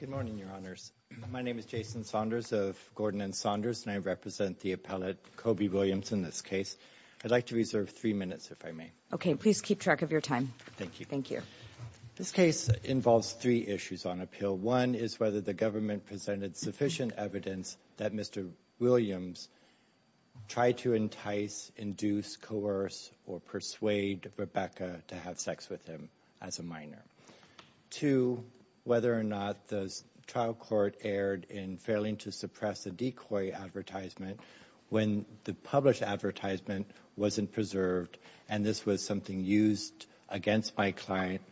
Good morning, Your Honors. My name is Jason Saunders of Gordon and Saunders, and I represent the appellate, Kobe Williams, in this case. I'd like to reserve three minutes, if I may. Okay. Please keep track of your time. Thank you. This case involves three issues on appeal. One is whether the government presented sufficient evidence that Mr. Williams tried to entice, induce, coerce, or persuade Rebecca to have sex with him as a minor. Two, whether or not the trial court erred in failing to suppress a decoy advertisement when the published advertisement wasn't preserved, and this was something used against my client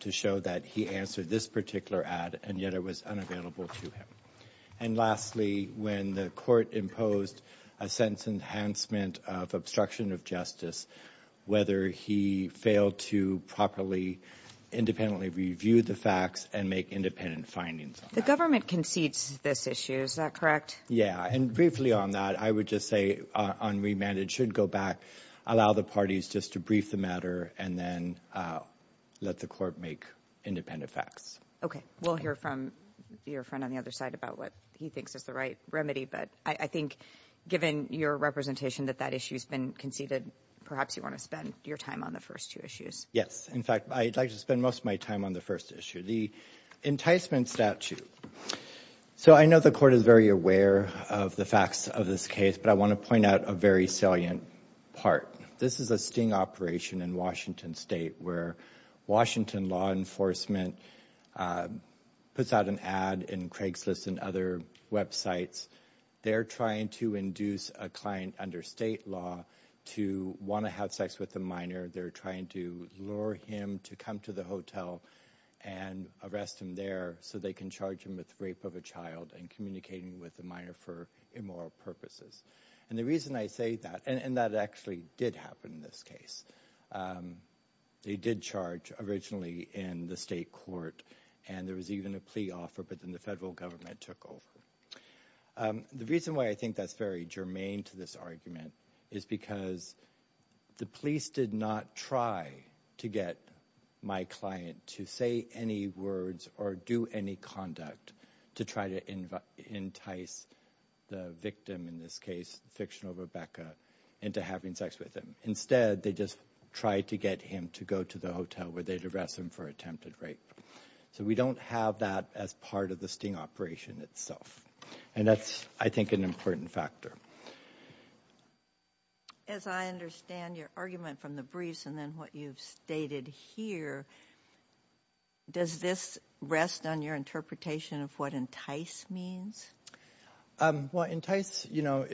to show that he answered this particular ad, and yet it was unavailable to him. And lastly, when the court imposed a sentence enhancement of obstruction of justice, whether he failed to properly, independently review the facts and make independent findings. The government concedes this issue, is that correct? Yeah, and briefly on that, I would just say, on remand, it should go back, allow the parties just to brief the matter, and then let the court make independent facts. Okay. We'll hear from your friend on the other side about what he thinks is the right remedy, but I think given your representation that that issue's been conceded, perhaps you want to spend your time on the first two issues. Yes. In fact, I'd like to spend most of my time on the first issue, the enticement statute. So I know the court is very aware of the facts of this case, but I want to point out a very salient part. This is a sting operation in Washington State where Washington law enforcement puts out an ad in Craigslist and other websites. They're trying to induce a client under state law to want to have sex with a minor. They're trying to lure him to come to the hotel and arrest him there so they can charge him with rape of a child and communicating with the minor for immoral purposes. And the reason I say that, and that actually did happen in this case, um, they did charge originally in the state court and there was even a plea offer, but then the federal government took over. Um, the reason why I think that's very germane to this argument is because the police did not try to get my client to say any words or do any conduct to try to entice the victim in this case, fictional Rebecca, into having sex with him. Instead, they just tried to get him to go to the hotel where they'd arrest him for attempted rape. So we don't have that as part of the sting operation itself. And that's, I think, an important factor. As I understand your argument from the briefs and then what you've stated here, does this rest on your interpretation of what entice means? Um, well, entice, you know,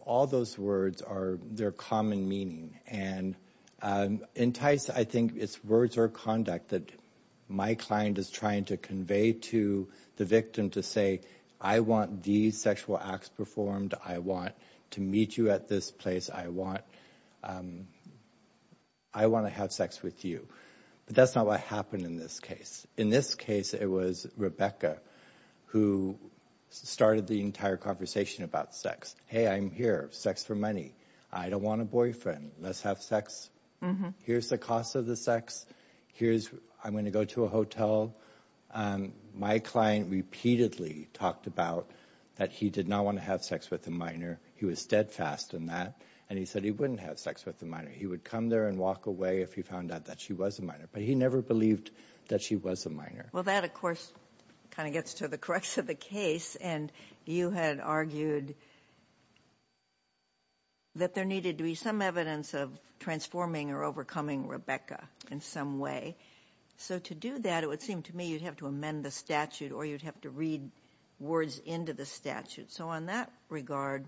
all those words are, they're common meaning. And, um, entice, I think it's words or conduct that my client is trying to convey to the victim to say, I want these sexual acts performed. I want to meet you at this place. I want, um, I want to have sex with you. But that's not what happened in this case. In this case, it was Rebecca who started the entire conversation about sex. Hey, I'm here. Sex for money. I don't want a boyfriend. Let's have sex. Here's the cost of the sex. Here's, I'm going to go to a hotel. Um, my client repeatedly talked about that he did not want to have sex with a minor. He was steadfast in that. And he said he wouldn't have sex with a minor. He would come there and walk away if he found out that she was a minor, but he never believed that she was a minor. Well, that of course kind of gets to the crux of the case. And you had argued that there needed to be some evidence of transforming or overcoming Rebecca in some way. So to do that, it would seem to me you'd have to amend the statute or you'd have to read words into the statute. So on that regard,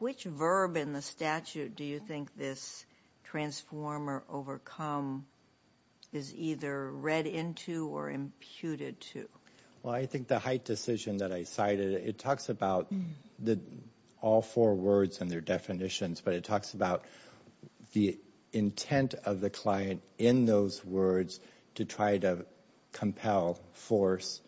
which verb in the statute do you think this transformer overcome is either read into or imputed to? Well, I think the height decision that I cited, it talks about all four words and their definitions, but it talks about the intent of the client in those words to try to compel, force,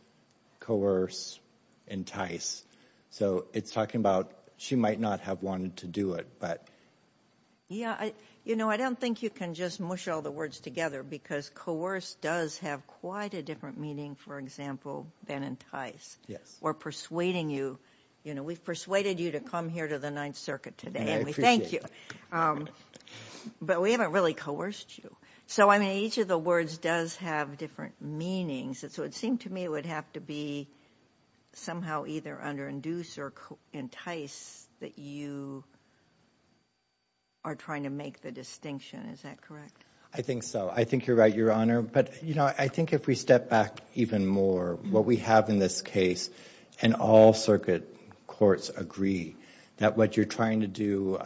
coerce, entice. So it's talking about she might not have wanted to do it, but. Yeah, I, you know, I don't think you can just mush all the words together because coerce does have quite a different meaning, for example, than entice. Yes. Or persuading you, you know, we've persuaded you to come here to the Ninth Circuit today and we thank you. But we haven't really coerced you. So I mean, each of the words does have different meanings. So it seemed to me it would have to be somehow either underinduce or entice that you are trying to make the distinction. Is that correct? I think so. I think you're right, Your Honor. But, you know, I think if we step back even more, what we have in this case, and all circuit courts agree that what you're trying to do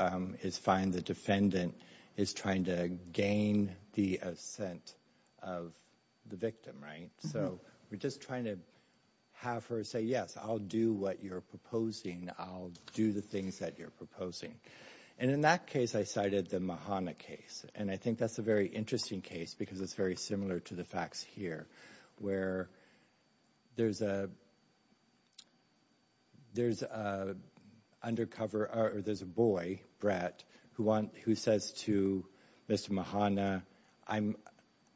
is find the defendant is trying to gain the assent of the victim, right? So we're just trying to have her say, yes, I'll do what you're proposing. I'll do the things that you're proposing. And in that case, I cited the Mahana case. And I think that's a very interesting case because it's very similar to the facts here, where there's a boy, Brett, who says to Mr. Mahana,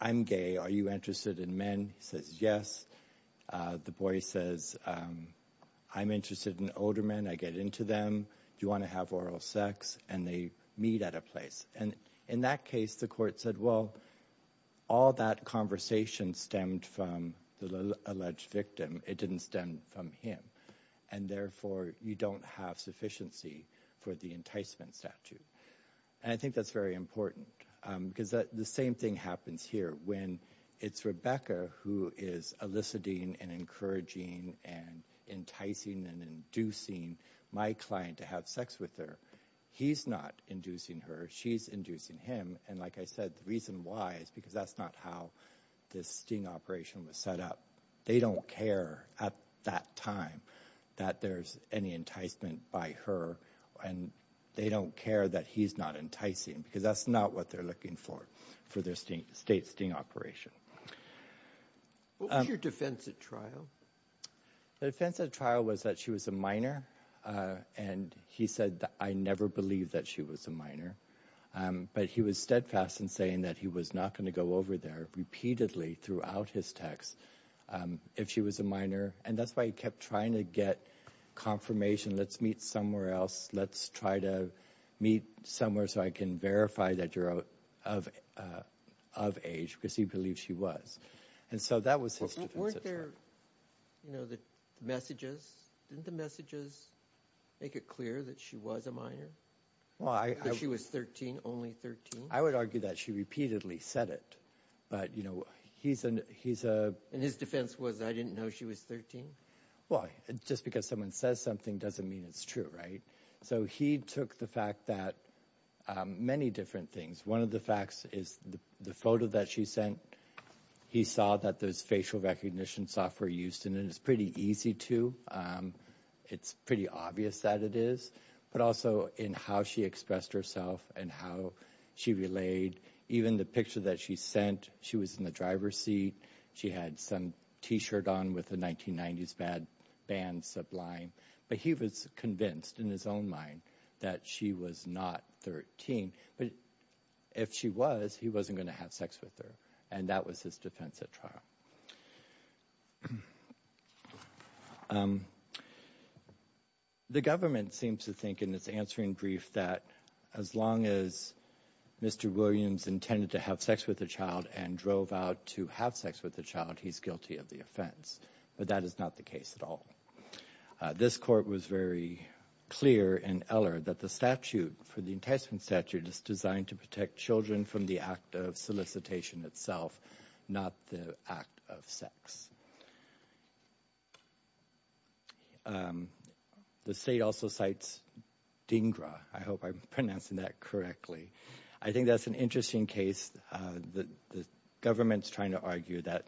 I'm gay. Are you interested in men? He says, yes. The boy says, I'm interested in older men. I get into them. Do you want to have oral sex? And they meet at a place. And in that case, the court said, well, all that conversation stemmed from the alleged victim. It didn't stem from him. And therefore, you don't have sufficiency for the enticement statute. And I think that's very important because the same thing happens here when it's Rebecca who is eliciting and encouraging and enticing and inducing my client to have sex with her. He's not inducing her. She's inducing him. And like I said, the reason why is because that's not how this sting operation was set up. They don't care at that time that there's any enticement by her. And they don't care that he's not enticing because that's not what they're looking for, for their state sting operation. What was your defense at trial? The defense at trial was that she was a minor. And he said that I never believed that she was a minor. But he was steadfast in saying that he was not going to go over there repeatedly throughout his texts if she was a minor. And that's why he kept trying to get confirmation. Let's meet somewhere else. Let's try to meet somewhere so I can verify that you're of age because he believed she was. And so that was his defense. Weren't there, you know, the messages? Didn't the messages make it clear that she was a minor? Why? She was 13, only 13. I would argue that she repeatedly said it. But, you know, he's a... And his defense was, I didn't know she was 13. Well, just because someone says something doesn't mean it's true, right? So he took the fact that many different things. One of the facts is the photo that she sent. He saw that there's facial recognition software used, and it's pretty easy to. It's pretty obvious that it is. But also in how she expressed herself and how she relayed. Even the picture that she sent, she was in the driver's seat. She had some t-shirt on with a 1990s band sublime. But he was convinced in his own mind that she was not 13. But if she was, he wasn't going to have sex with her. And that was his defense at trial. The government seems to think in its answering brief that as long as Mr. Williams intended to have sex with a child and drove out to have sex with the child, he's guilty of the offense. But that is not the case at all. This court was very clear in Eller that the statute for the enticement statute is designed to protect children from the act of solicitation itself, not the act of sex. The state also cites DINGRA. I hope I'm pronouncing that correctly. I think that's an interesting case. The government's trying to argue that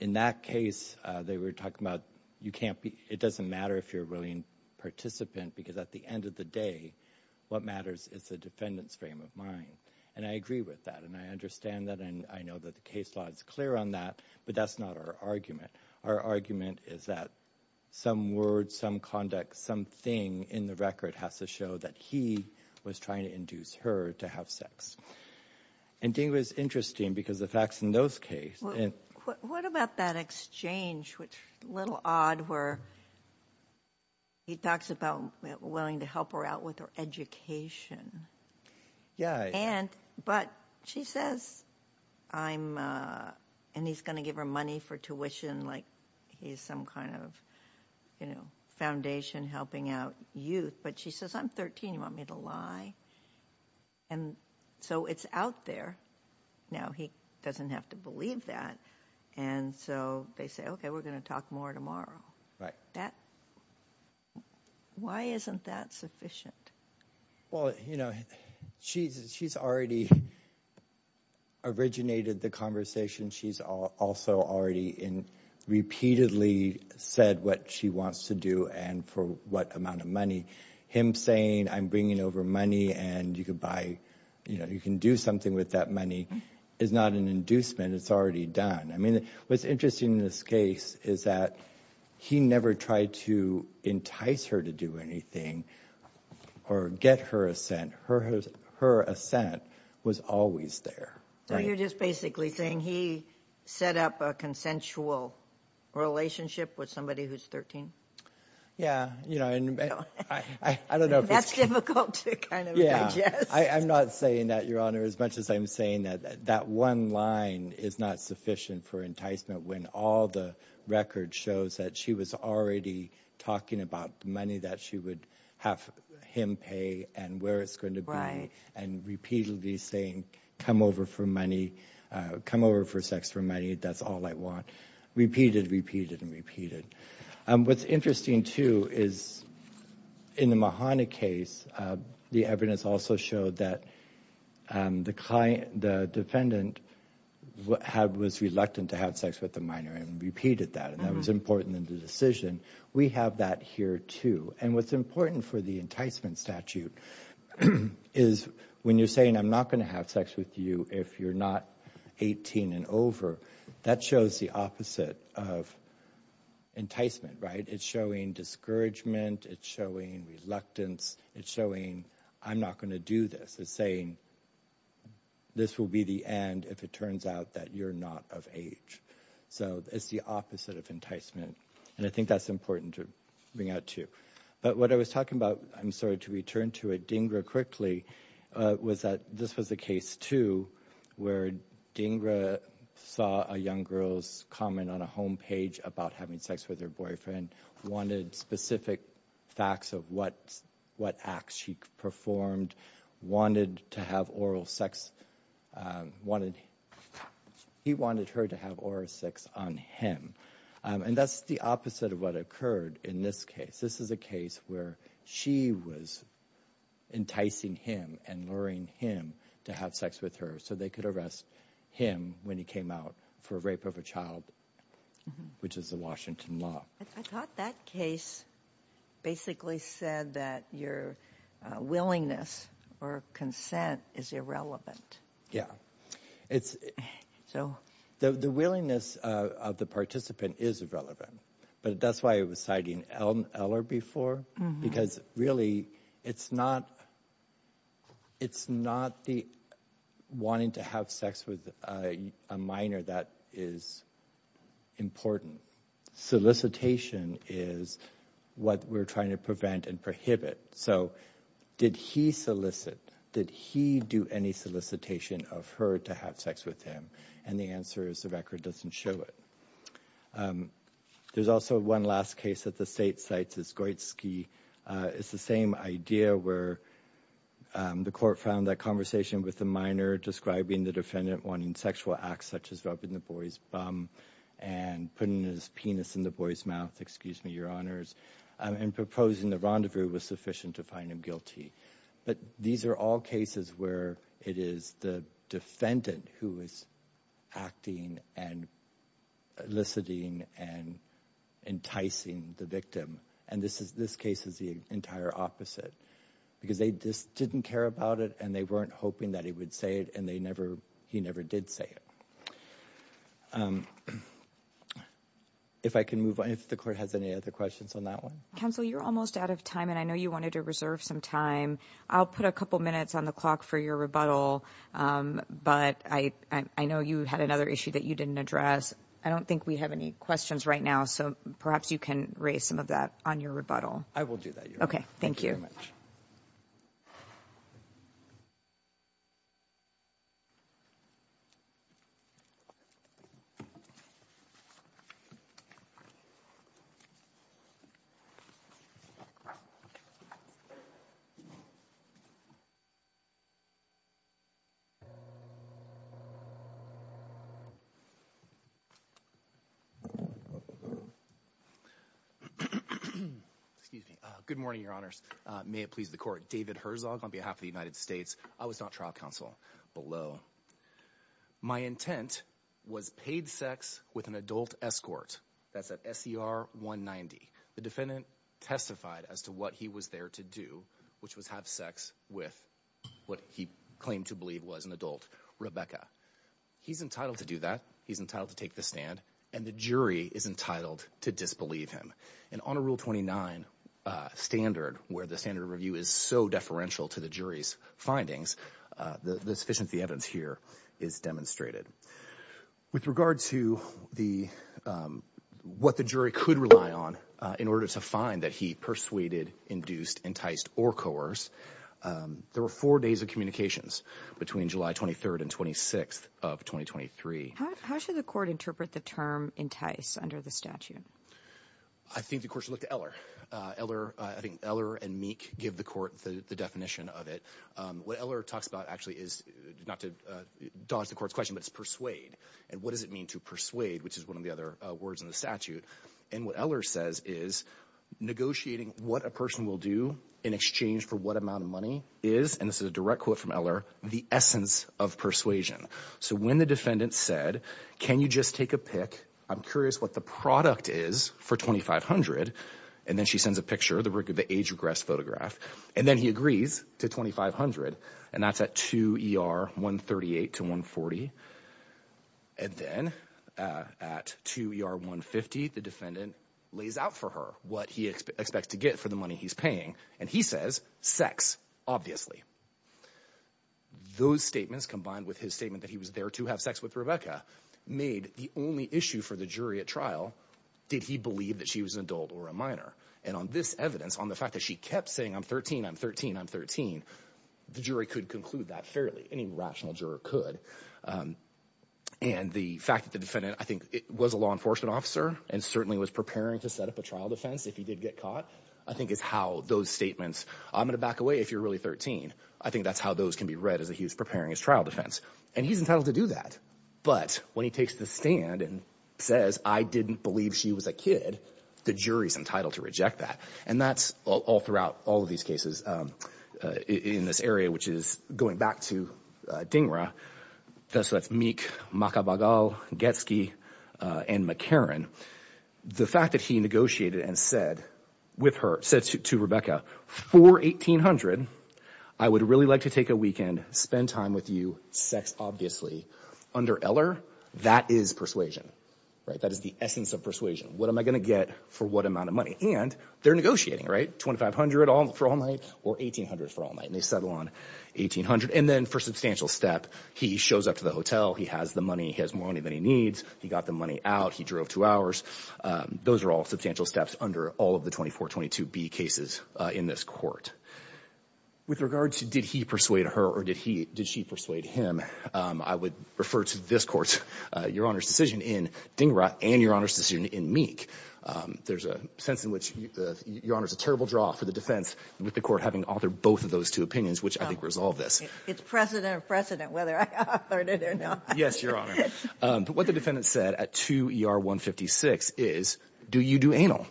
in that case, they were talking about you can't be, it doesn't matter if you're a willing participant because at the end of the day, what matters is the defendant's frame of mind. And I agree with that. And I understand that. And I know that the case law is clear on that, but that's not our argument. Our argument is that some words, some conduct, something in the record has to show that he was trying to induce her to have sex. And DINGRA is interesting because the facts in those cases. What about that exchange, which is a little odd, where he talks about willing to help her out with her education. Yeah. And, but she says, I'm, and he's going to give her money for tuition, like he's some kind of, you know, foundation helping out youth. But she says, I'm 13, you want me to lie? And so it's out there. Now he doesn't have to believe that. And so they say, okay, we're going to talk more tomorrow. Right. Why isn't that sufficient? Well, you know, she's already originated the conversation. She's also already in, repeatedly said what she wants to do and for what amount of money. Him saying, I'm bringing over money and you could buy, you know, you can do something with that money is not an inducement. It's already done. I mean, what's interesting in this case is that he never tried to entice her to do anything or get her assent. Her assent was always there. So you're just basically saying he set up a consensual relationship with somebody who's 13. Yeah. You know, and I don't know if that's difficult to kind of digest. I'm not saying that your honor, as much as I'm saying that, that one line is not sufficient for enticement when all the record shows that she was already talking about the money that she would have him pay and where it's going to be and repeatedly saying, come over for money, come over for sex for money. That's all I want. Repeated, repeated and repeated. What's interesting too is in the Mahana case, the evidence also showed that the defendant was reluctant to have sex with the minor and repeated that. And that was important in the decision. We have that here too. And what's important for the enticement statute is when you're saying, I'm not going to have sex with you if you're not 18 and over, that shows the opposite of enticement, right? It's showing discouragement. It's showing reluctance. It's showing, I'm not going to do this. It's saying, this will be the end if it turns out that you're not of age. So it's the opposite of enticement. And I think that's important to bring out too. But what I was talking about, I'm sorry, to return to it, Dhingra quickly, was that this was a case too, where Dhingra saw a young girl's comment on a homepage about having sex with her boyfriend, wanted specific facts of what acts she performed, wanted to have oral sex. He wanted her to have oral sex on him. And that's the opposite of what occurred in this case. This is a case where she was enticing him and luring him to have sex with her so they could arrest him when he came out for rape of a child, which is a Washington law. I thought that case basically said that your willingness or consent is irrelevant. Yeah. The willingness of the participant is relevant, but that's why I was citing Eller before, because really it's not the wanting to have sex with a minor that is important. Solicitation is what we're trying to prevent and inhibit. So did he solicit, did he do any solicitation of her to have sex with him? And the answer is the record doesn't show it. There's also one last case that the state cites is Goitsky. It's the same idea where the court found that conversation with the minor describing the defendant wanting sexual acts such as rubbing the boy's bum and putting his penis in the boy's mouth and proposing the rendezvous was sufficient to find him guilty. But these are all cases where it is the defendant who is acting and eliciting and enticing the victim. And this case is the entire opposite because they just didn't care about it and they weren't hoping that he would and he never did say it. If I can move on, if the court has any other questions on that one. Counsel, you're almost out of time and I know you wanted to reserve some time. I'll put a couple minutes on the clock for your rebuttal, but I know you had another issue that you didn't address. I don't think we have any questions right now, so perhaps you can raise some of that on your rebuttal. I will do that. Okay, thank you very much. Good morning, your honors. May it please the court. David Herzog on behalf of the United States. I was not trial counsel below. My intent was paid sex with an adult escort. That's at SER 190. The defendant testified as to what he was there to do, which was have sex with what he claimed to believe was an adult, Rebecca. He's entitled to do that. He's entitled to take the stand and the jury is entitled to disbelieve him. And on a rule 29 standard, where the standard review is so deferential to the jury's findings, the sufficient evidence here is demonstrated. With regard to what the jury could rely on in order to find that he persuaded, induced, enticed, or coerced, there were four days of communications between July 23rd and 26th of 2023. How should the court interpret the term entice under the statute? I think the court should look to Eller. Eller, I think Eller and Meek give the court the definition of it. What Eller talks about actually is not to dodge the court's question, but it's persuade. And what does it mean to persuade, which is one of the other words in the statute. And what Eller says is negotiating what a person will do in exchange for what amount of money is, and this can you just take a pick? I'm curious what the product is for $2,500. And then she sends a picture, the age regressed photograph. And then he agrees to $2,500. And that's at 2 ER 138 to 140. And then at 2 ER 150, the defendant lays out for her what he expects to get for the money he's paying. And he says, sex, obviously. Those statements combined with his statement that he was there to have sex with Rebecca made the only issue for the jury at trial. Did he believe that she was an adult or a minor? And on this evidence, on the fact that she kept saying, I'm 13, I'm 13, I'm 13. The jury could conclude that fairly. Any rational juror could. And the fact that the defendant, I think it was a law enforcement officer and certainly was preparing to set up a trial defense. If he did get caught, I think is how those statements I'm going to back away. If you're really 13, I think that's how those can be read as a, he was preparing his trial defense and he's entitled to do that. But when he takes the stand and says, I didn't believe she was a kid, the jury's entitled to reject that. And that's all throughout all of these cases in this area, which is going back to DINGRA. So that's Meek, Makabagal, Getsky, and McCarran. The fact that he negotiated and said with her, said to Rebecca, for $1,800, I would really like to take a weekend, spend time with you, sex, obviously. Under Eller, that is persuasion, right? That is the essence of persuasion. What am I going to get for what amount of money? And they're negotiating, right? $2,500 for all night or $1,800 for all night. And they settle on $1,800. And then for substantial step, he shows up to the hotel, he has the money, he has more money than he needs. He got the money out, he drove two hours. Those are all substantial steps under all of the cases in this court. With regards to did he persuade her or did she persuade him, I would refer to this court, Your Honor's decision in DINGRA and Your Honor's decision in Meek. There's a sense in which, Your Honor, it's a terrible draw for the defense with the court having authored both of those two opinions, which I think resolve this. It's precedent or precedent whether I authored it or not. Yes, Your Honor. But what the defendant said at 2 ER 156 is, do you do anal,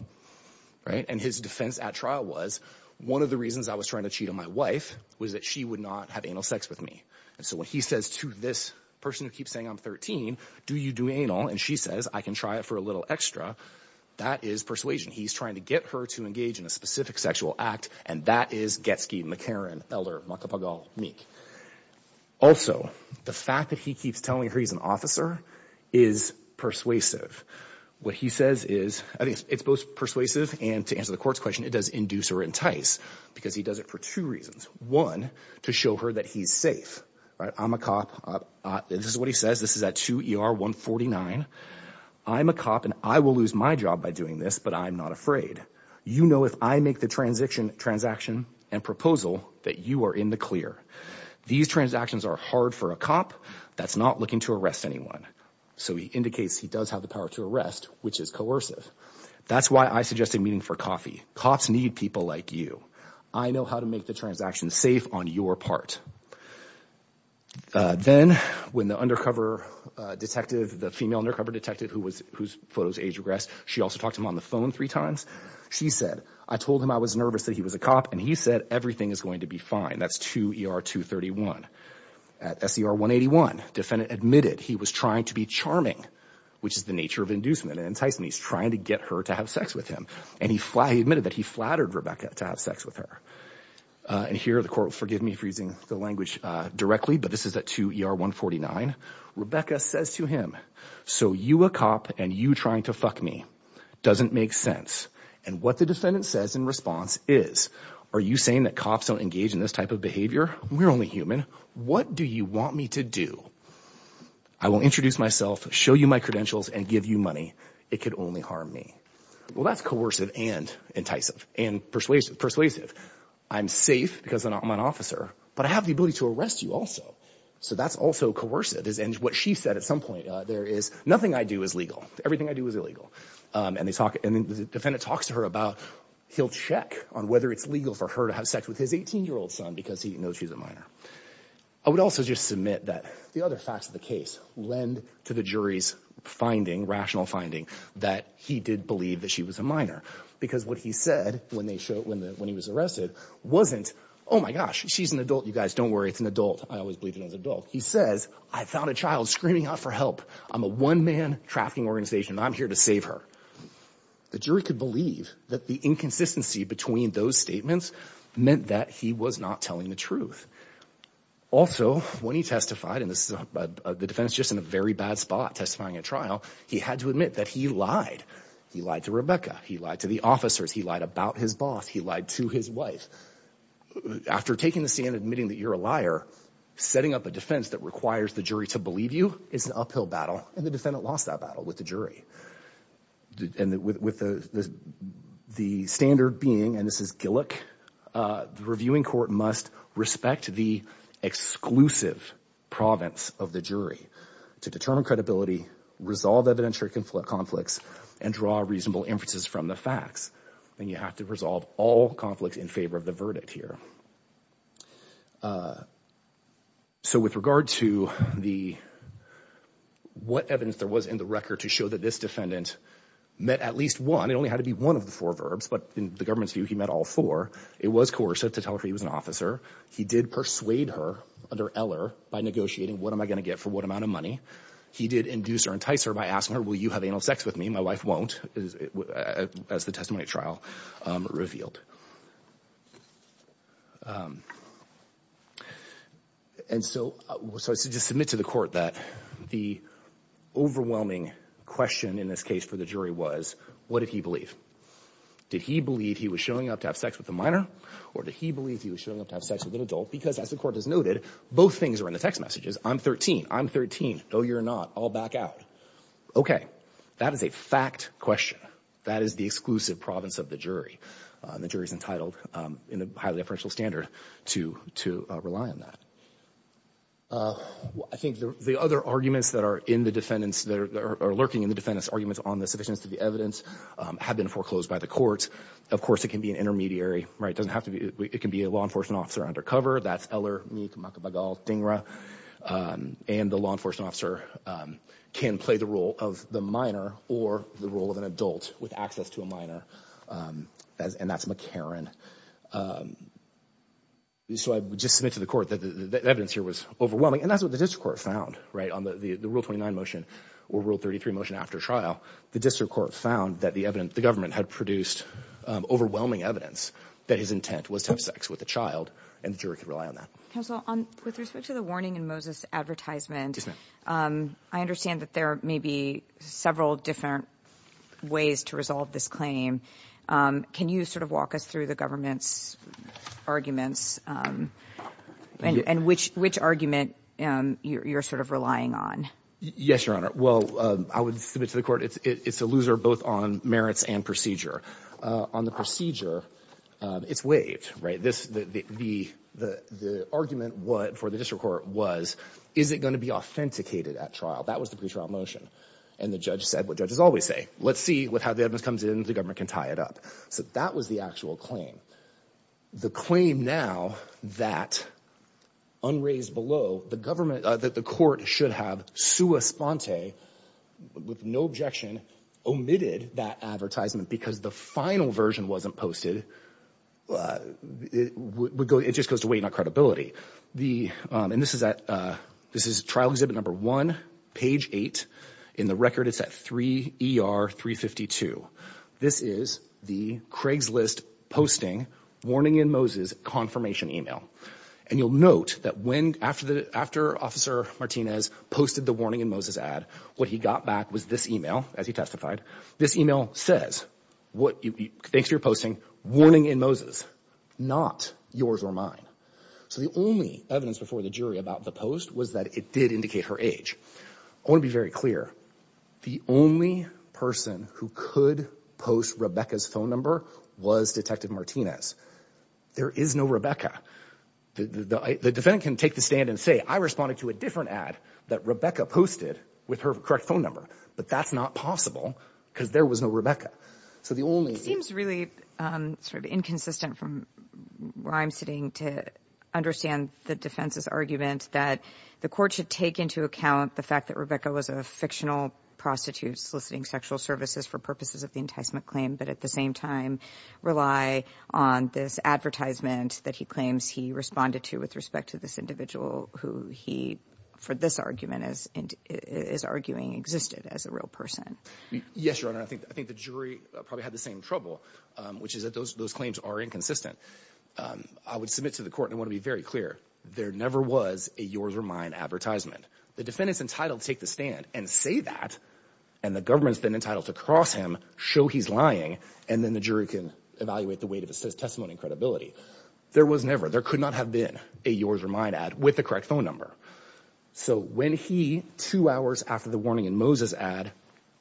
right? And his defense at trial was, one of the reasons I was trying to cheat on my wife was that she would not have anal sex with me. And so when he says to this person who keeps saying I'm 13, do you do anal? And she says, I can try it for a little extra. That is persuasion. He's trying to get her to engage in a specific sexual act. And that is Getsky, McCarran, Eller, Maka Pagal, Meek. Also, the fact that he keeps telling her he's an officer is persuasive. What he says is, I think it's both persuasive and to answer the court's question, it does induce or entice because he does it for two reasons. One, to show her that he's safe, right? I'm a cop. This is what he says. This is at 2 ER 149. I'm a cop and I will lose my job by doing this, but I'm not afraid. You know, if I make the transaction and proposal that you are in the clear. These transactions are hard for a cop that's not looking to arrest anyone. So, he indicates he does have the power to arrest, which is coercive. That's why I suggested meeting for coffee. Cops need people like you. I know how to make the transaction safe on your part. Then, when the undercover detective, the female undercover detective whose photos age regressed, she also talked to him on the phone three times. She said, I told him I was nervous that he was a cop and he said everything is going to be fine. That's 2 ER 231. At SER 181, defendant admitted he was trying to be charming, which is the nature of inducement and enticing. He's trying to get her to have sex with him. He admitted that he flattered Rebecca to have sex with her. Here, the court, forgive me for using the language directly, but this is at 2 ER 149. Rebecca says to him, so you a cop and you trying to fuck me doesn't make sense. What the defendant says in response is, are you saying that cops don't engage in this type of behavior? We're only human. What do you want me to do? I will introduce myself, show you my credentials and give you money. It could only harm me. Well, that's coercive and enticing and persuasive persuasive. I'm safe because I'm an officer, but I have the ability to arrest you also. So that's also coercive is and what she said at some point, there is nothing I do is legal. Everything I do is illegal. And they talk and the defendant talks to her about, he'll check on whether it's legal for her to have sex with his 18 year old son because he knows she's a minor. I would also just submit that the other facts of the case lend to the jury's finding rational finding that he did believe that she was a minor because what he said when they showed, when the, when he was arrested wasn't, Oh my gosh, she's an adult. You guys don't worry. It's an adult. I always believed it as adult. He says, I found a child screaming out for help. I'm a one man trafficking organization. I'm here to save her. The jury could believe that the inconsistency between those statements meant that he was not telling the truth. Also, when he testified and this is the defense, just in a very bad spot, testifying at trial, he had to admit that he lied. He lied to Rebecca. He lied to the officers. He lied about his boss. He lied to his wife after taking the stand, admitting that you're a liar, setting up a defense that requires the jury to believe you it's an uphill battle. And the defendant lost that battle with the jury and with the, the standard being, and this is a look, uh, the reviewing court must respect the exclusive province of the jury to determine credibility, resolve evidentiary conflict conflicts and draw reasonable inferences from the facts. Then you have to resolve all conflicts in favor of the verdict here. Uh, so with regard to the, what evidence there was in the record to show that this defendant met at least one, it only had to be one of the four verbs, but in the government's view, he met all four. It was coercive to tell her he was an officer. He did persuade her under Eller by negotiating what am I going to get for what amount of money he did induce or entice her by asking her, will you have anal sex with me? My wife won't as the testimony trial revealed. And so, so I said, just submit to the court that the overwhelming question in this case for the jury was, what did he believe? Did he believe he was showing up to have sex with a minor, or did he believe he was showing up to have sex with an adult? Because as the court has noted, both things are in the text messages. I'm 13. I'm 13. No, you're not. I'll back out. Okay. That is a fact question. That is the exclusive province of the jury. Uh, the jury's entitled, um, in the highly deferential standard to, to, uh, rely on that. Uh, I think the, the other arguments that are in the defendant's, that are, are lurking in the defendant's arguments on the sufficiency of the evidence, um, have been foreclosed by the court. Of course it can be an intermediary, right? It doesn't have to be, it can be a law enforcement officer undercover. That's Eller, Meek, Maka, Bagal, Dhingra. Um, and the law enforcement officer, um, can play the role of the minor or the role of an adult with access to a minor. Um, as, and that's McCarran. Um, so I just submit to the court that the evidence here was overwhelming and that's what the district court found, right? On the, the, the rule 29 motion or rule 33 motion after trial, the district court found that the evidence, the government had produced, um, overwhelming evidence that his intent was to have sex with a child and the jury could rely on that. Counsel, um, with respect to the warning in Moses advertisement, um, I understand that there may be several different ways to resolve this claim. Um, can you sort of walk us through the government's arguments, um, and, and which, which argument, um, you're, you're sort of relying on? Yes, Your Honor. Well, um, I would submit to the court, it's, it's a loser both on merits and procedure. Uh, on the procedure, um, it's waived, right? This, the, the, the, the argument what for the district court was, is it going to be authenticated at trial? That was the pre-trial motion. And the judge said, what judges always say, let's see with how the evidence comes in, the government can tie it up. So that was the actual claim. The claim now that unraised below the government, uh, that the court should have sua sponte with no objection omitted that advertisement because the final version wasn't posted. Uh, it would go, it just goes to wait on credibility. The, um, and this is at, uh, this is trial exhibit number one, page eight in the record. It's at 3 ER 352. This is the Craigslist posting warning in Moses confirmation email. And you'll note that when, after the, after officer Martinez posted the warning in Moses ad, what he got back was this email. As he testified, this email says what you, thanks for your posting warning in Moses, not yours or mine. So the only evidence before the jury about the post was that it did indicate her age. I want to be very clear. The only person who could post Rebecca's phone number was detective Martinez. There is no Rebecca. The defendant can take the stand and say, I responded to a different ad that Rebecca posted with her correct phone number, but that's not possible because there was no Rebecca. So the only, It seems really, um, sort of inconsistent from where I'm sitting to understand the defense's argument that the court should take into account the fact that Rebecca was a fictional prostitute soliciting sexual services for purposes of the enticement claim, but at the same time rely on this advertisement that he claims he responded to with respect to this individual, who he, for this argument is, is arguing existed as a real person. Yes, Your Honor. I think, I think the jury probably had the same trouble, um, which is that those, those claims are inconsistent. Um, I would submit to the court and want to be very clear. There never was a yours or mine advertisement. The defendant's entitled to take the stand and say that, and the government's been entitled to cross him, show he's lying, and then the jury can evaluate the weight of his testimony and credibility. There was never, there could not have been a yours or mine ad with the correct phone number. So when he, two hours after the warning in Moses ad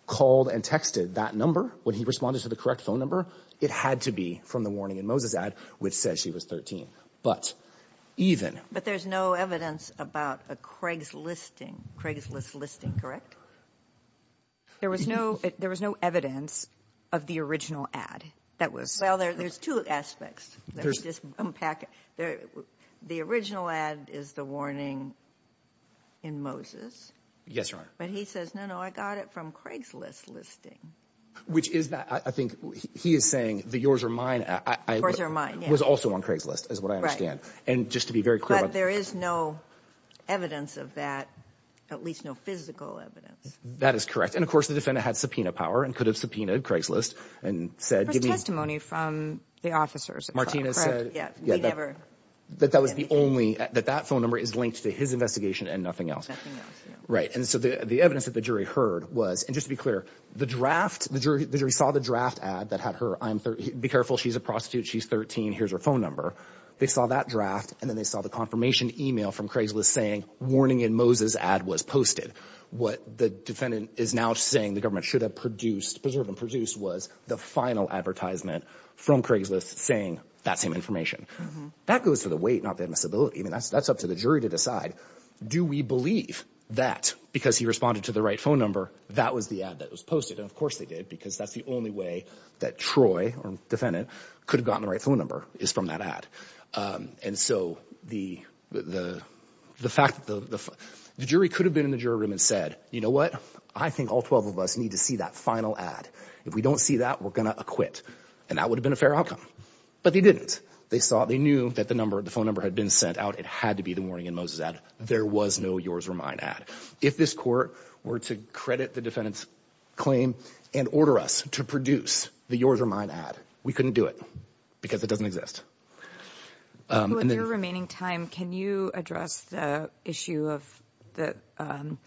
called and texted that number, when he responded to the correct phone number, it had to be from the warning in Moses ad, which says she was 13. But even. But there's no evidence about a Craigslisting, Craigslist listing, correct? There was no, there was no evidence of the original ad that was. Well, there, there's two aspects. Let me just unpack it. There, the original ad is the warning in Moses. Yes, Your Honor. But he says, no, no, I got it from Craigslist listing. Which is that, I think he is saying the yours or mine was also on Craigslist is what I understand. And just to be very clear, there is no evidence of that, at least no physical evidence. That is correct. And of course the defendant had subpoena power and could have subpoenaed Craigslist and said, give me testimony from the officers. Martina said that that was the only, that that phone number is linked to his investigation and nothing else. Right. And so the evidence that the jury saw the draft ad that had her, I'm 30. Be careful. She's a prostitute. She's 13. Here's her phone number. They saw that draft. And then they saw the confirmation email from Craigslist saying warning in Moses ad was posted. What the defendant is now saying the government should have produced preserved and produced was the final advertisement from Craigslist saying that same information that goes to the weight, not the admissibility. I mean, that's, that's up to the jury to decide. Do we believe that because he responded to the right phone number, that was the ad that was posted. And of course they did because that's the only way that Troy or defendant could have gotten the right phone number is from that ad. Um, and so the, the, the fact that the, the jury could have been in the jury room and said, you know what? I think all 12 of us need to see that final ad. If we don't see that, we're going to acquit. And that would have been a fair outcome, but they didn't. They saw, they knew that the number of the phone number had been sent out. It had to be the morning in Moses ad. There was no yours or mine ad. If this court were to credit the defendant's claim and order us to produce the yours or mine ad, we couldn't do it because it doesn't exist. Um, and then remaining time, can you address the issue of the, um,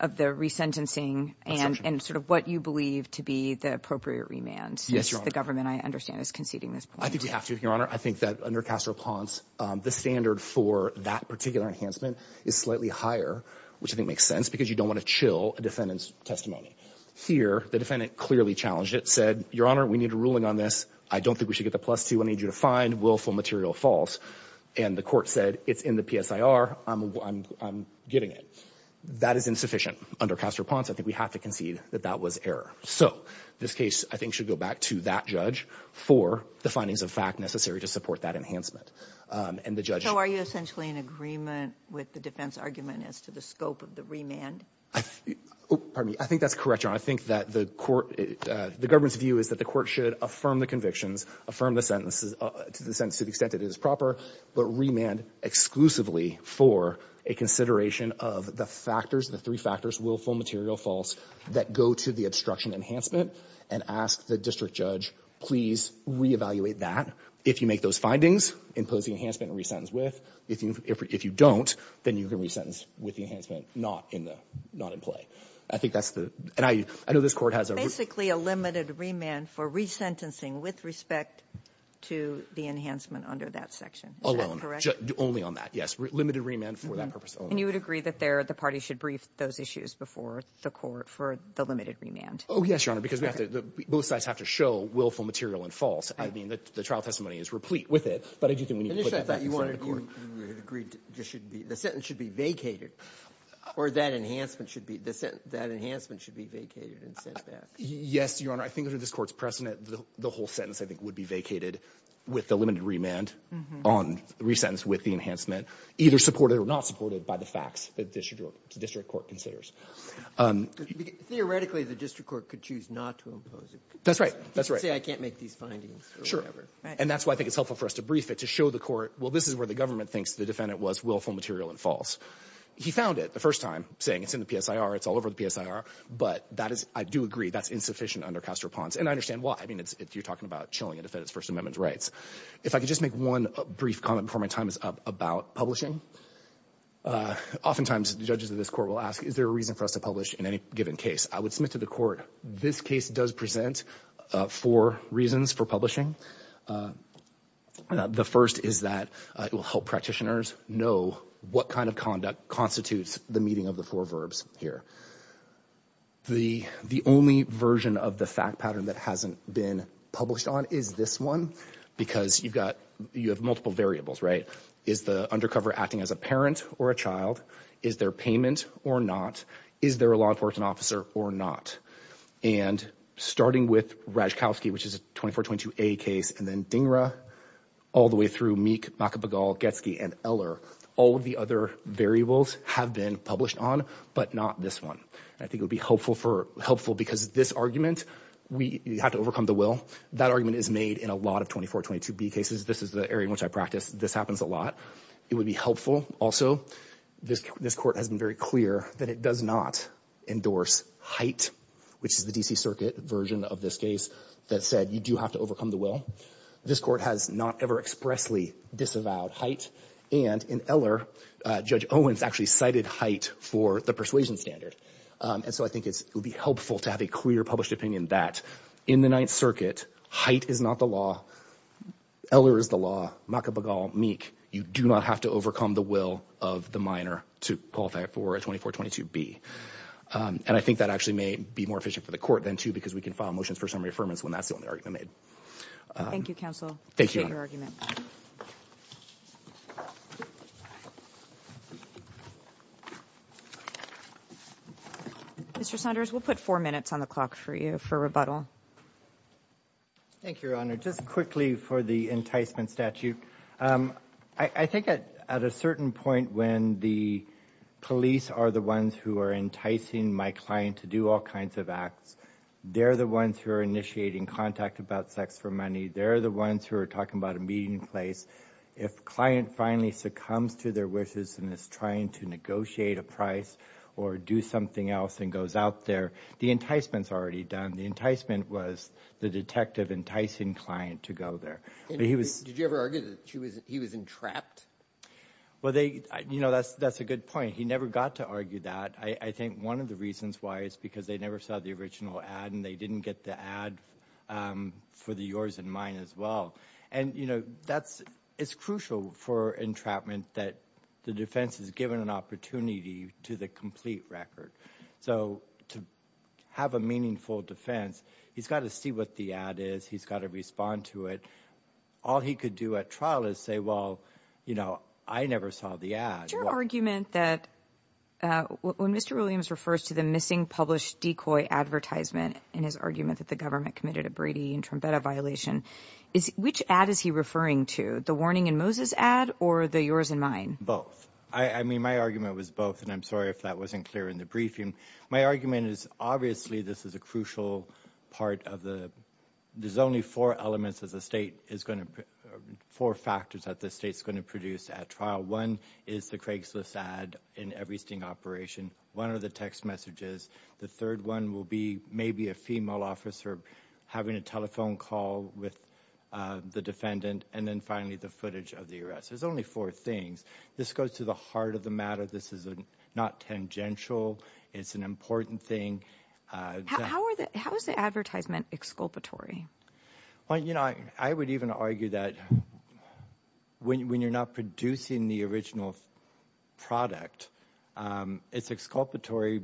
of the resentencing and, and sort of what you believe to be the appropriate remand since the government I understand is conceding this point. I think we have to, Your Honor. I think that under Castro Ponce, um, the standard for that particular enhancement is slightly higher, which I think because you don't want to chill a defendant's testimony here. The defendant clearly challenged it, said, Your Honor, we need a ruling on this. I don't think we should get the plus two. I need you to find willful material false. And the court said it's in the PSIR. I'm, I'm, I'm getting it. That is insufficient under Castro Ponce. I think we have to concede that that was error. So this case, I think should go back to that judge for the findings of fact necessary to support that enhancement. Um, and the judge, are you essentially in agreement with the defense argument as to the remand? Oh, pardon me. I think that's correct, Your Honor. I think that the court, uh, the government's view is that the court should affirm the convictions, affirm the sentences, uh, to the sentence to the extent that it is proper, but remand exclusively for a consideration of the factors, the three factors, willful material false that go to the obstruction enhancement and ask the district judge, please reevaluate that. If you make those findings, impose the enhancement and resentence with. If you, if, if you don't, then you can resentence with the remand not in the, not in play. I think that's the, and I, I know this court has a. Basically, a limited remand for resentencing with respect to the enhancement under that section. Alone. Is that correct? Only on that, yes. Limited remand for that purpose only. And you would agree that there, the party should brief those issues before the court for the limited remand? Oh, yes, Your Honor, because we have to, both sides have to show willful material and false. I mean, the, the trial testimony is replete with it, but I do think we need to put that in front of the court. But initially I thought you wanted, you, you would have agreed there should be, the sentence should be vacated, or that enhancement should be, the sentence, that enhancement should be vacated and sent back. Yes, Your Honor. I think under this court's precedent, the, the whole sentence, I think, would be vacated with the limited remand on resentence with the enhancement, either supported or not supported by the facts that the district, the district court considers. Theoretically, the district court could choose not to impose it. That's right. That's right. You could say I can't make these findings or whatever. And that's why I think it's helpful for us to brief it, to show the court, well, this is where the government thinks the defendant was willful material and false. He found it the first time, saying it's in the PSIR, it's all over the PSIR. But that is, I do agree, that's insufficient under Castro-Ponce. And I understand why. I mean, it's, you're talking about chilling a defendant's First Amendment rights. If I could just make one brief comment before my time is up about publishing. Oftentimes, the judges of this court will ask, is there a reason for us to publish in any given case? I would submit to the court, this case does present four reasons for publishing. The first is that it will help practitioners know what kind of conduct constitutes the meeting of the four verbs here. The only version of the fact pattern that hasn't been published on is this one, because you've got, you have multiple variables, right? Is the undercover acting as a parent or a child? Is there payment or not? Is there a law enforcement officer or not? And starting with Razhkovsky, which is a 24-22A case, and then Dhingra, all the way through Meek, Makapegal, Getsky, and Eller, all of the other variables have been published on, but not this one. I think it would be helpful because this argument, you have to overcome the will. That argument is made in a lot of 24-22B cases. This is the area in which I practice. This happens a lot. It would be helpful, also, this court has been very clear that it does not endorse Haidt, which is the D.C. Circuit version of this case, that said you do have to overcome the will. This court has not ever expressly disavowed Haidt, and in Eller, Judge Owens actually cited Haidt for the persuasion standard. And so I think it would be helpful to have a clear published opinion that in the Ninth Circuit, Haidt is not the law. Eller is the law. Makapegal, Meek, you do not have to overcome the will of the minor to qualify for a 24-22B. And I think that actually may be more efficient for the court then, too, because we can file motions for summary affirmance when that's the only argument made. Thank you, counsel. Thank you, Your Honor. Appreciate your argument. Mr. Saunders, we'll put four minutes on the clock for you for rebuttal. Thank you, Your Honor. Just quickly for the enticement statute. I think at a certain point when the police are the ones who are enticing my client to do all kinds of acts, they're the ones who are initiating contact about sex for money. They're the ones who are talking about a meeting place. If client finally succumbs to their wishes and is trying to negotiate a price or do something else and goes out there, the enticement's already done. The enticement was the detective enticing client to go there. Did you ever argue that he was entrapped? Well, that's a good point. He never got to argue that. I think one of the reasons why is because they never saw the original ad and they didn't get the ad for the yours and mine as well. And it's crucial for entrapment that the defense is given an opportunity to the complete record. So to have a meaningful defense, he's got to see what the ad is. He's got to respond to it. All he could do at trial is say, well, you know, I never saw the ad. Your argument that when Mr. Williams refers to the missing published decoy advertisement and his argument that the government committed a Brady and Trumpetta violation, which ad is he referring to, the warning and Moses ad or the yours and mine? Both. I mean, my argument was both, and I'm sorry if that wasn't clear in the briefing. My argument is obviously this is a crucial part of the, there's only four elements as a state is going to, four factors that the state's going to produce at trial. One is the Craigslist ad in every sting operation. One are the text messages. The third one will be maybe a female officer having a telephone call with the defendant. And then finally, the footage of the arrest. There's only four things. This goes to the heart of the matter. This is not tangential. It's an important thing. How are the, how is the advertisement exculpatory? Well, you know, I would even argue that when you're not producing the original product, it's exculpatory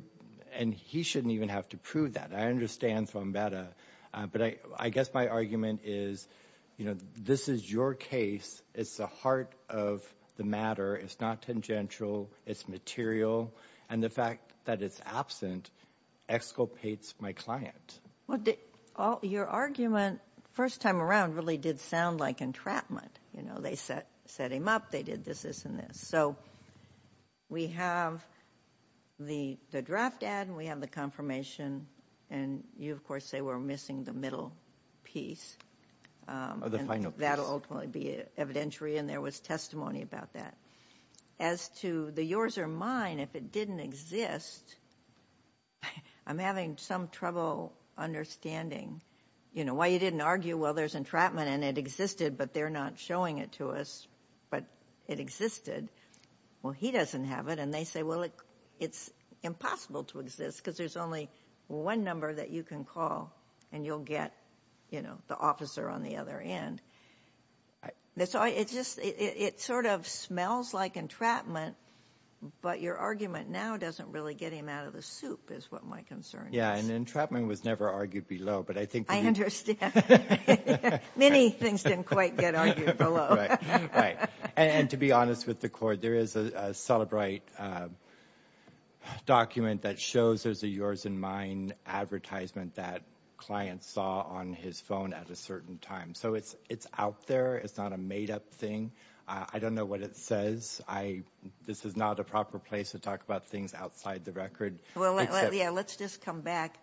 and he shouldn't even have to prove that. I understand from better, but I guess my argument is, you know, this is your case. It's the heart of the matter. It's not tangential. It's material. And the fact that it's absent exculpates my client. Well, your argument first time around really did sound like entrapment. You know, they set him up. They did this, this, and this. So we have the draft ad and we have the confirmation. And you, of course, say we're missing the middle piece. Or the final piece. That'll ultimately be evidentiary. And there was testimony about that. As to the yours or mine, if it didn't exist, I'm having some trouble understanding. You know, why you didn't argue? Well, there's entrapment and it existed, but they're not showing it to us. But it existed. Well, he doesn't have it. And they say, well, it's impossible to exist because there's only one number that you can call and you'll get, you know, the officer on the other end. So it just, it sort of smells like entrapment. But your argument now doesn't really get him out of the soup, is what my concern is. Yeah, and entrapment was never argued below. But I think. I understand. Many things didn't quite get argued below. Right, right. And to be honest with the court, there is a Celebrite document that shows there's a yours and mine advertisement that client saw on his phone at a certain time. So it's out there. It's not a made up thing. I don't know what it says. I, this is not a proper place to talk about things outside the record. Well, yeah, let's just come back.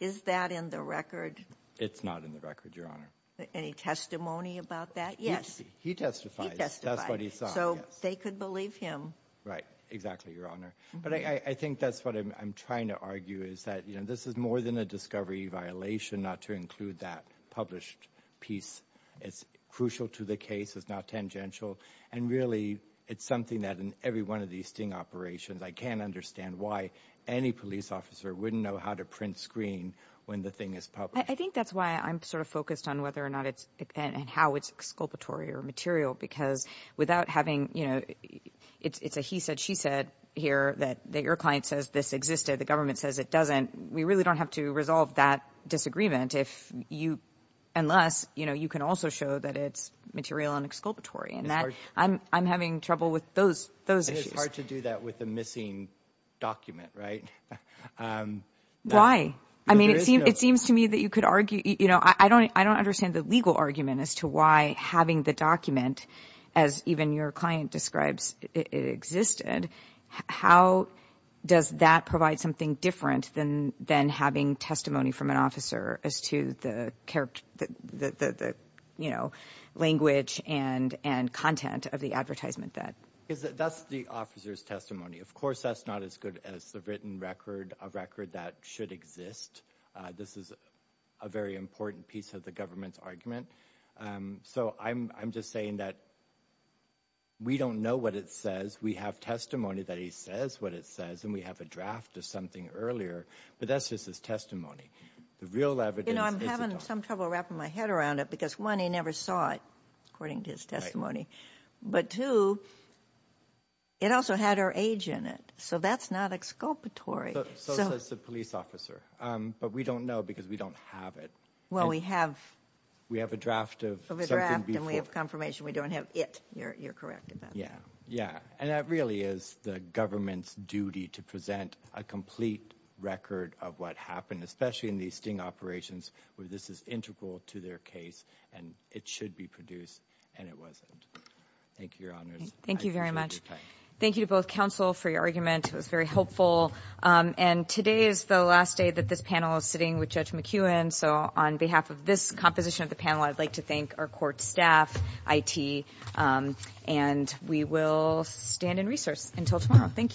Is that in the record? It's not in the record, Your Honor. Any testimony about that? Yes. He testifies. That's what he saw. So they could believe him. Right, exactly, Your Honor. But I think that's what I'm trying to argue is that, you know, this is more than a discovery violation not to include that published piece. It's crucial to the case. It's not tangential. And really, it's something that in every one of these sting operations, I can't understand why any police officer wouldn't know how to print screen when the thing is published. I think that's why I'm sort of focused on whether or not it's and how it's exculpatory or material, because without having, you know, it's a he said, she said here that your client says this existed. The government says it doesn't. We really don't have to resolve that disagreement if you unless, you know, you can also show that it's material and exculpatory. And that I'm having trouble with those. It's hard to do that with a missing document, right? Why? I mean, it seems to me that you could argue, you know, I don't I don't understand the legal argument as to why having the document as even your client describes it existed. How does that provide something different than than having testimony from an officer as to the character, the, you know, language and and content of the advertisement that is that's the officer's testimony. Of course, that's not as good as the written record of record that should exist. This is a very important piece of the government's argument. So I'm just saying that. We don't know what it says. We have testimony that he says what it says, and we have a draft of something earlier. But that's just his testimony. The real evidence. You know, I'm having some trouble wrapping my head around it because, one, he never saw it, according to his testimony. But two, it also had her age in it. So that's not exculpatory. So says the police officer. But we don't know because we don't have it. Well, we have we have a draft of the draft and we have confirmation we don't have it. You're correct. Yeah. Yeah. And that really is the government's duty to present a complete record of what happened, especially in these sting operations where this is integral to their case and it should be produced. And it wasn't. Thank you, Your Honor. Thank you very much. Thank you to both counsel for your argument. It was very helpful. And today is the last day that this panel is sitting with Judge McEwen. So on behalf of this composition of the panel, I'd like to thank our court staff, IT, and we will stand in recourse until tomorrow. Thank you.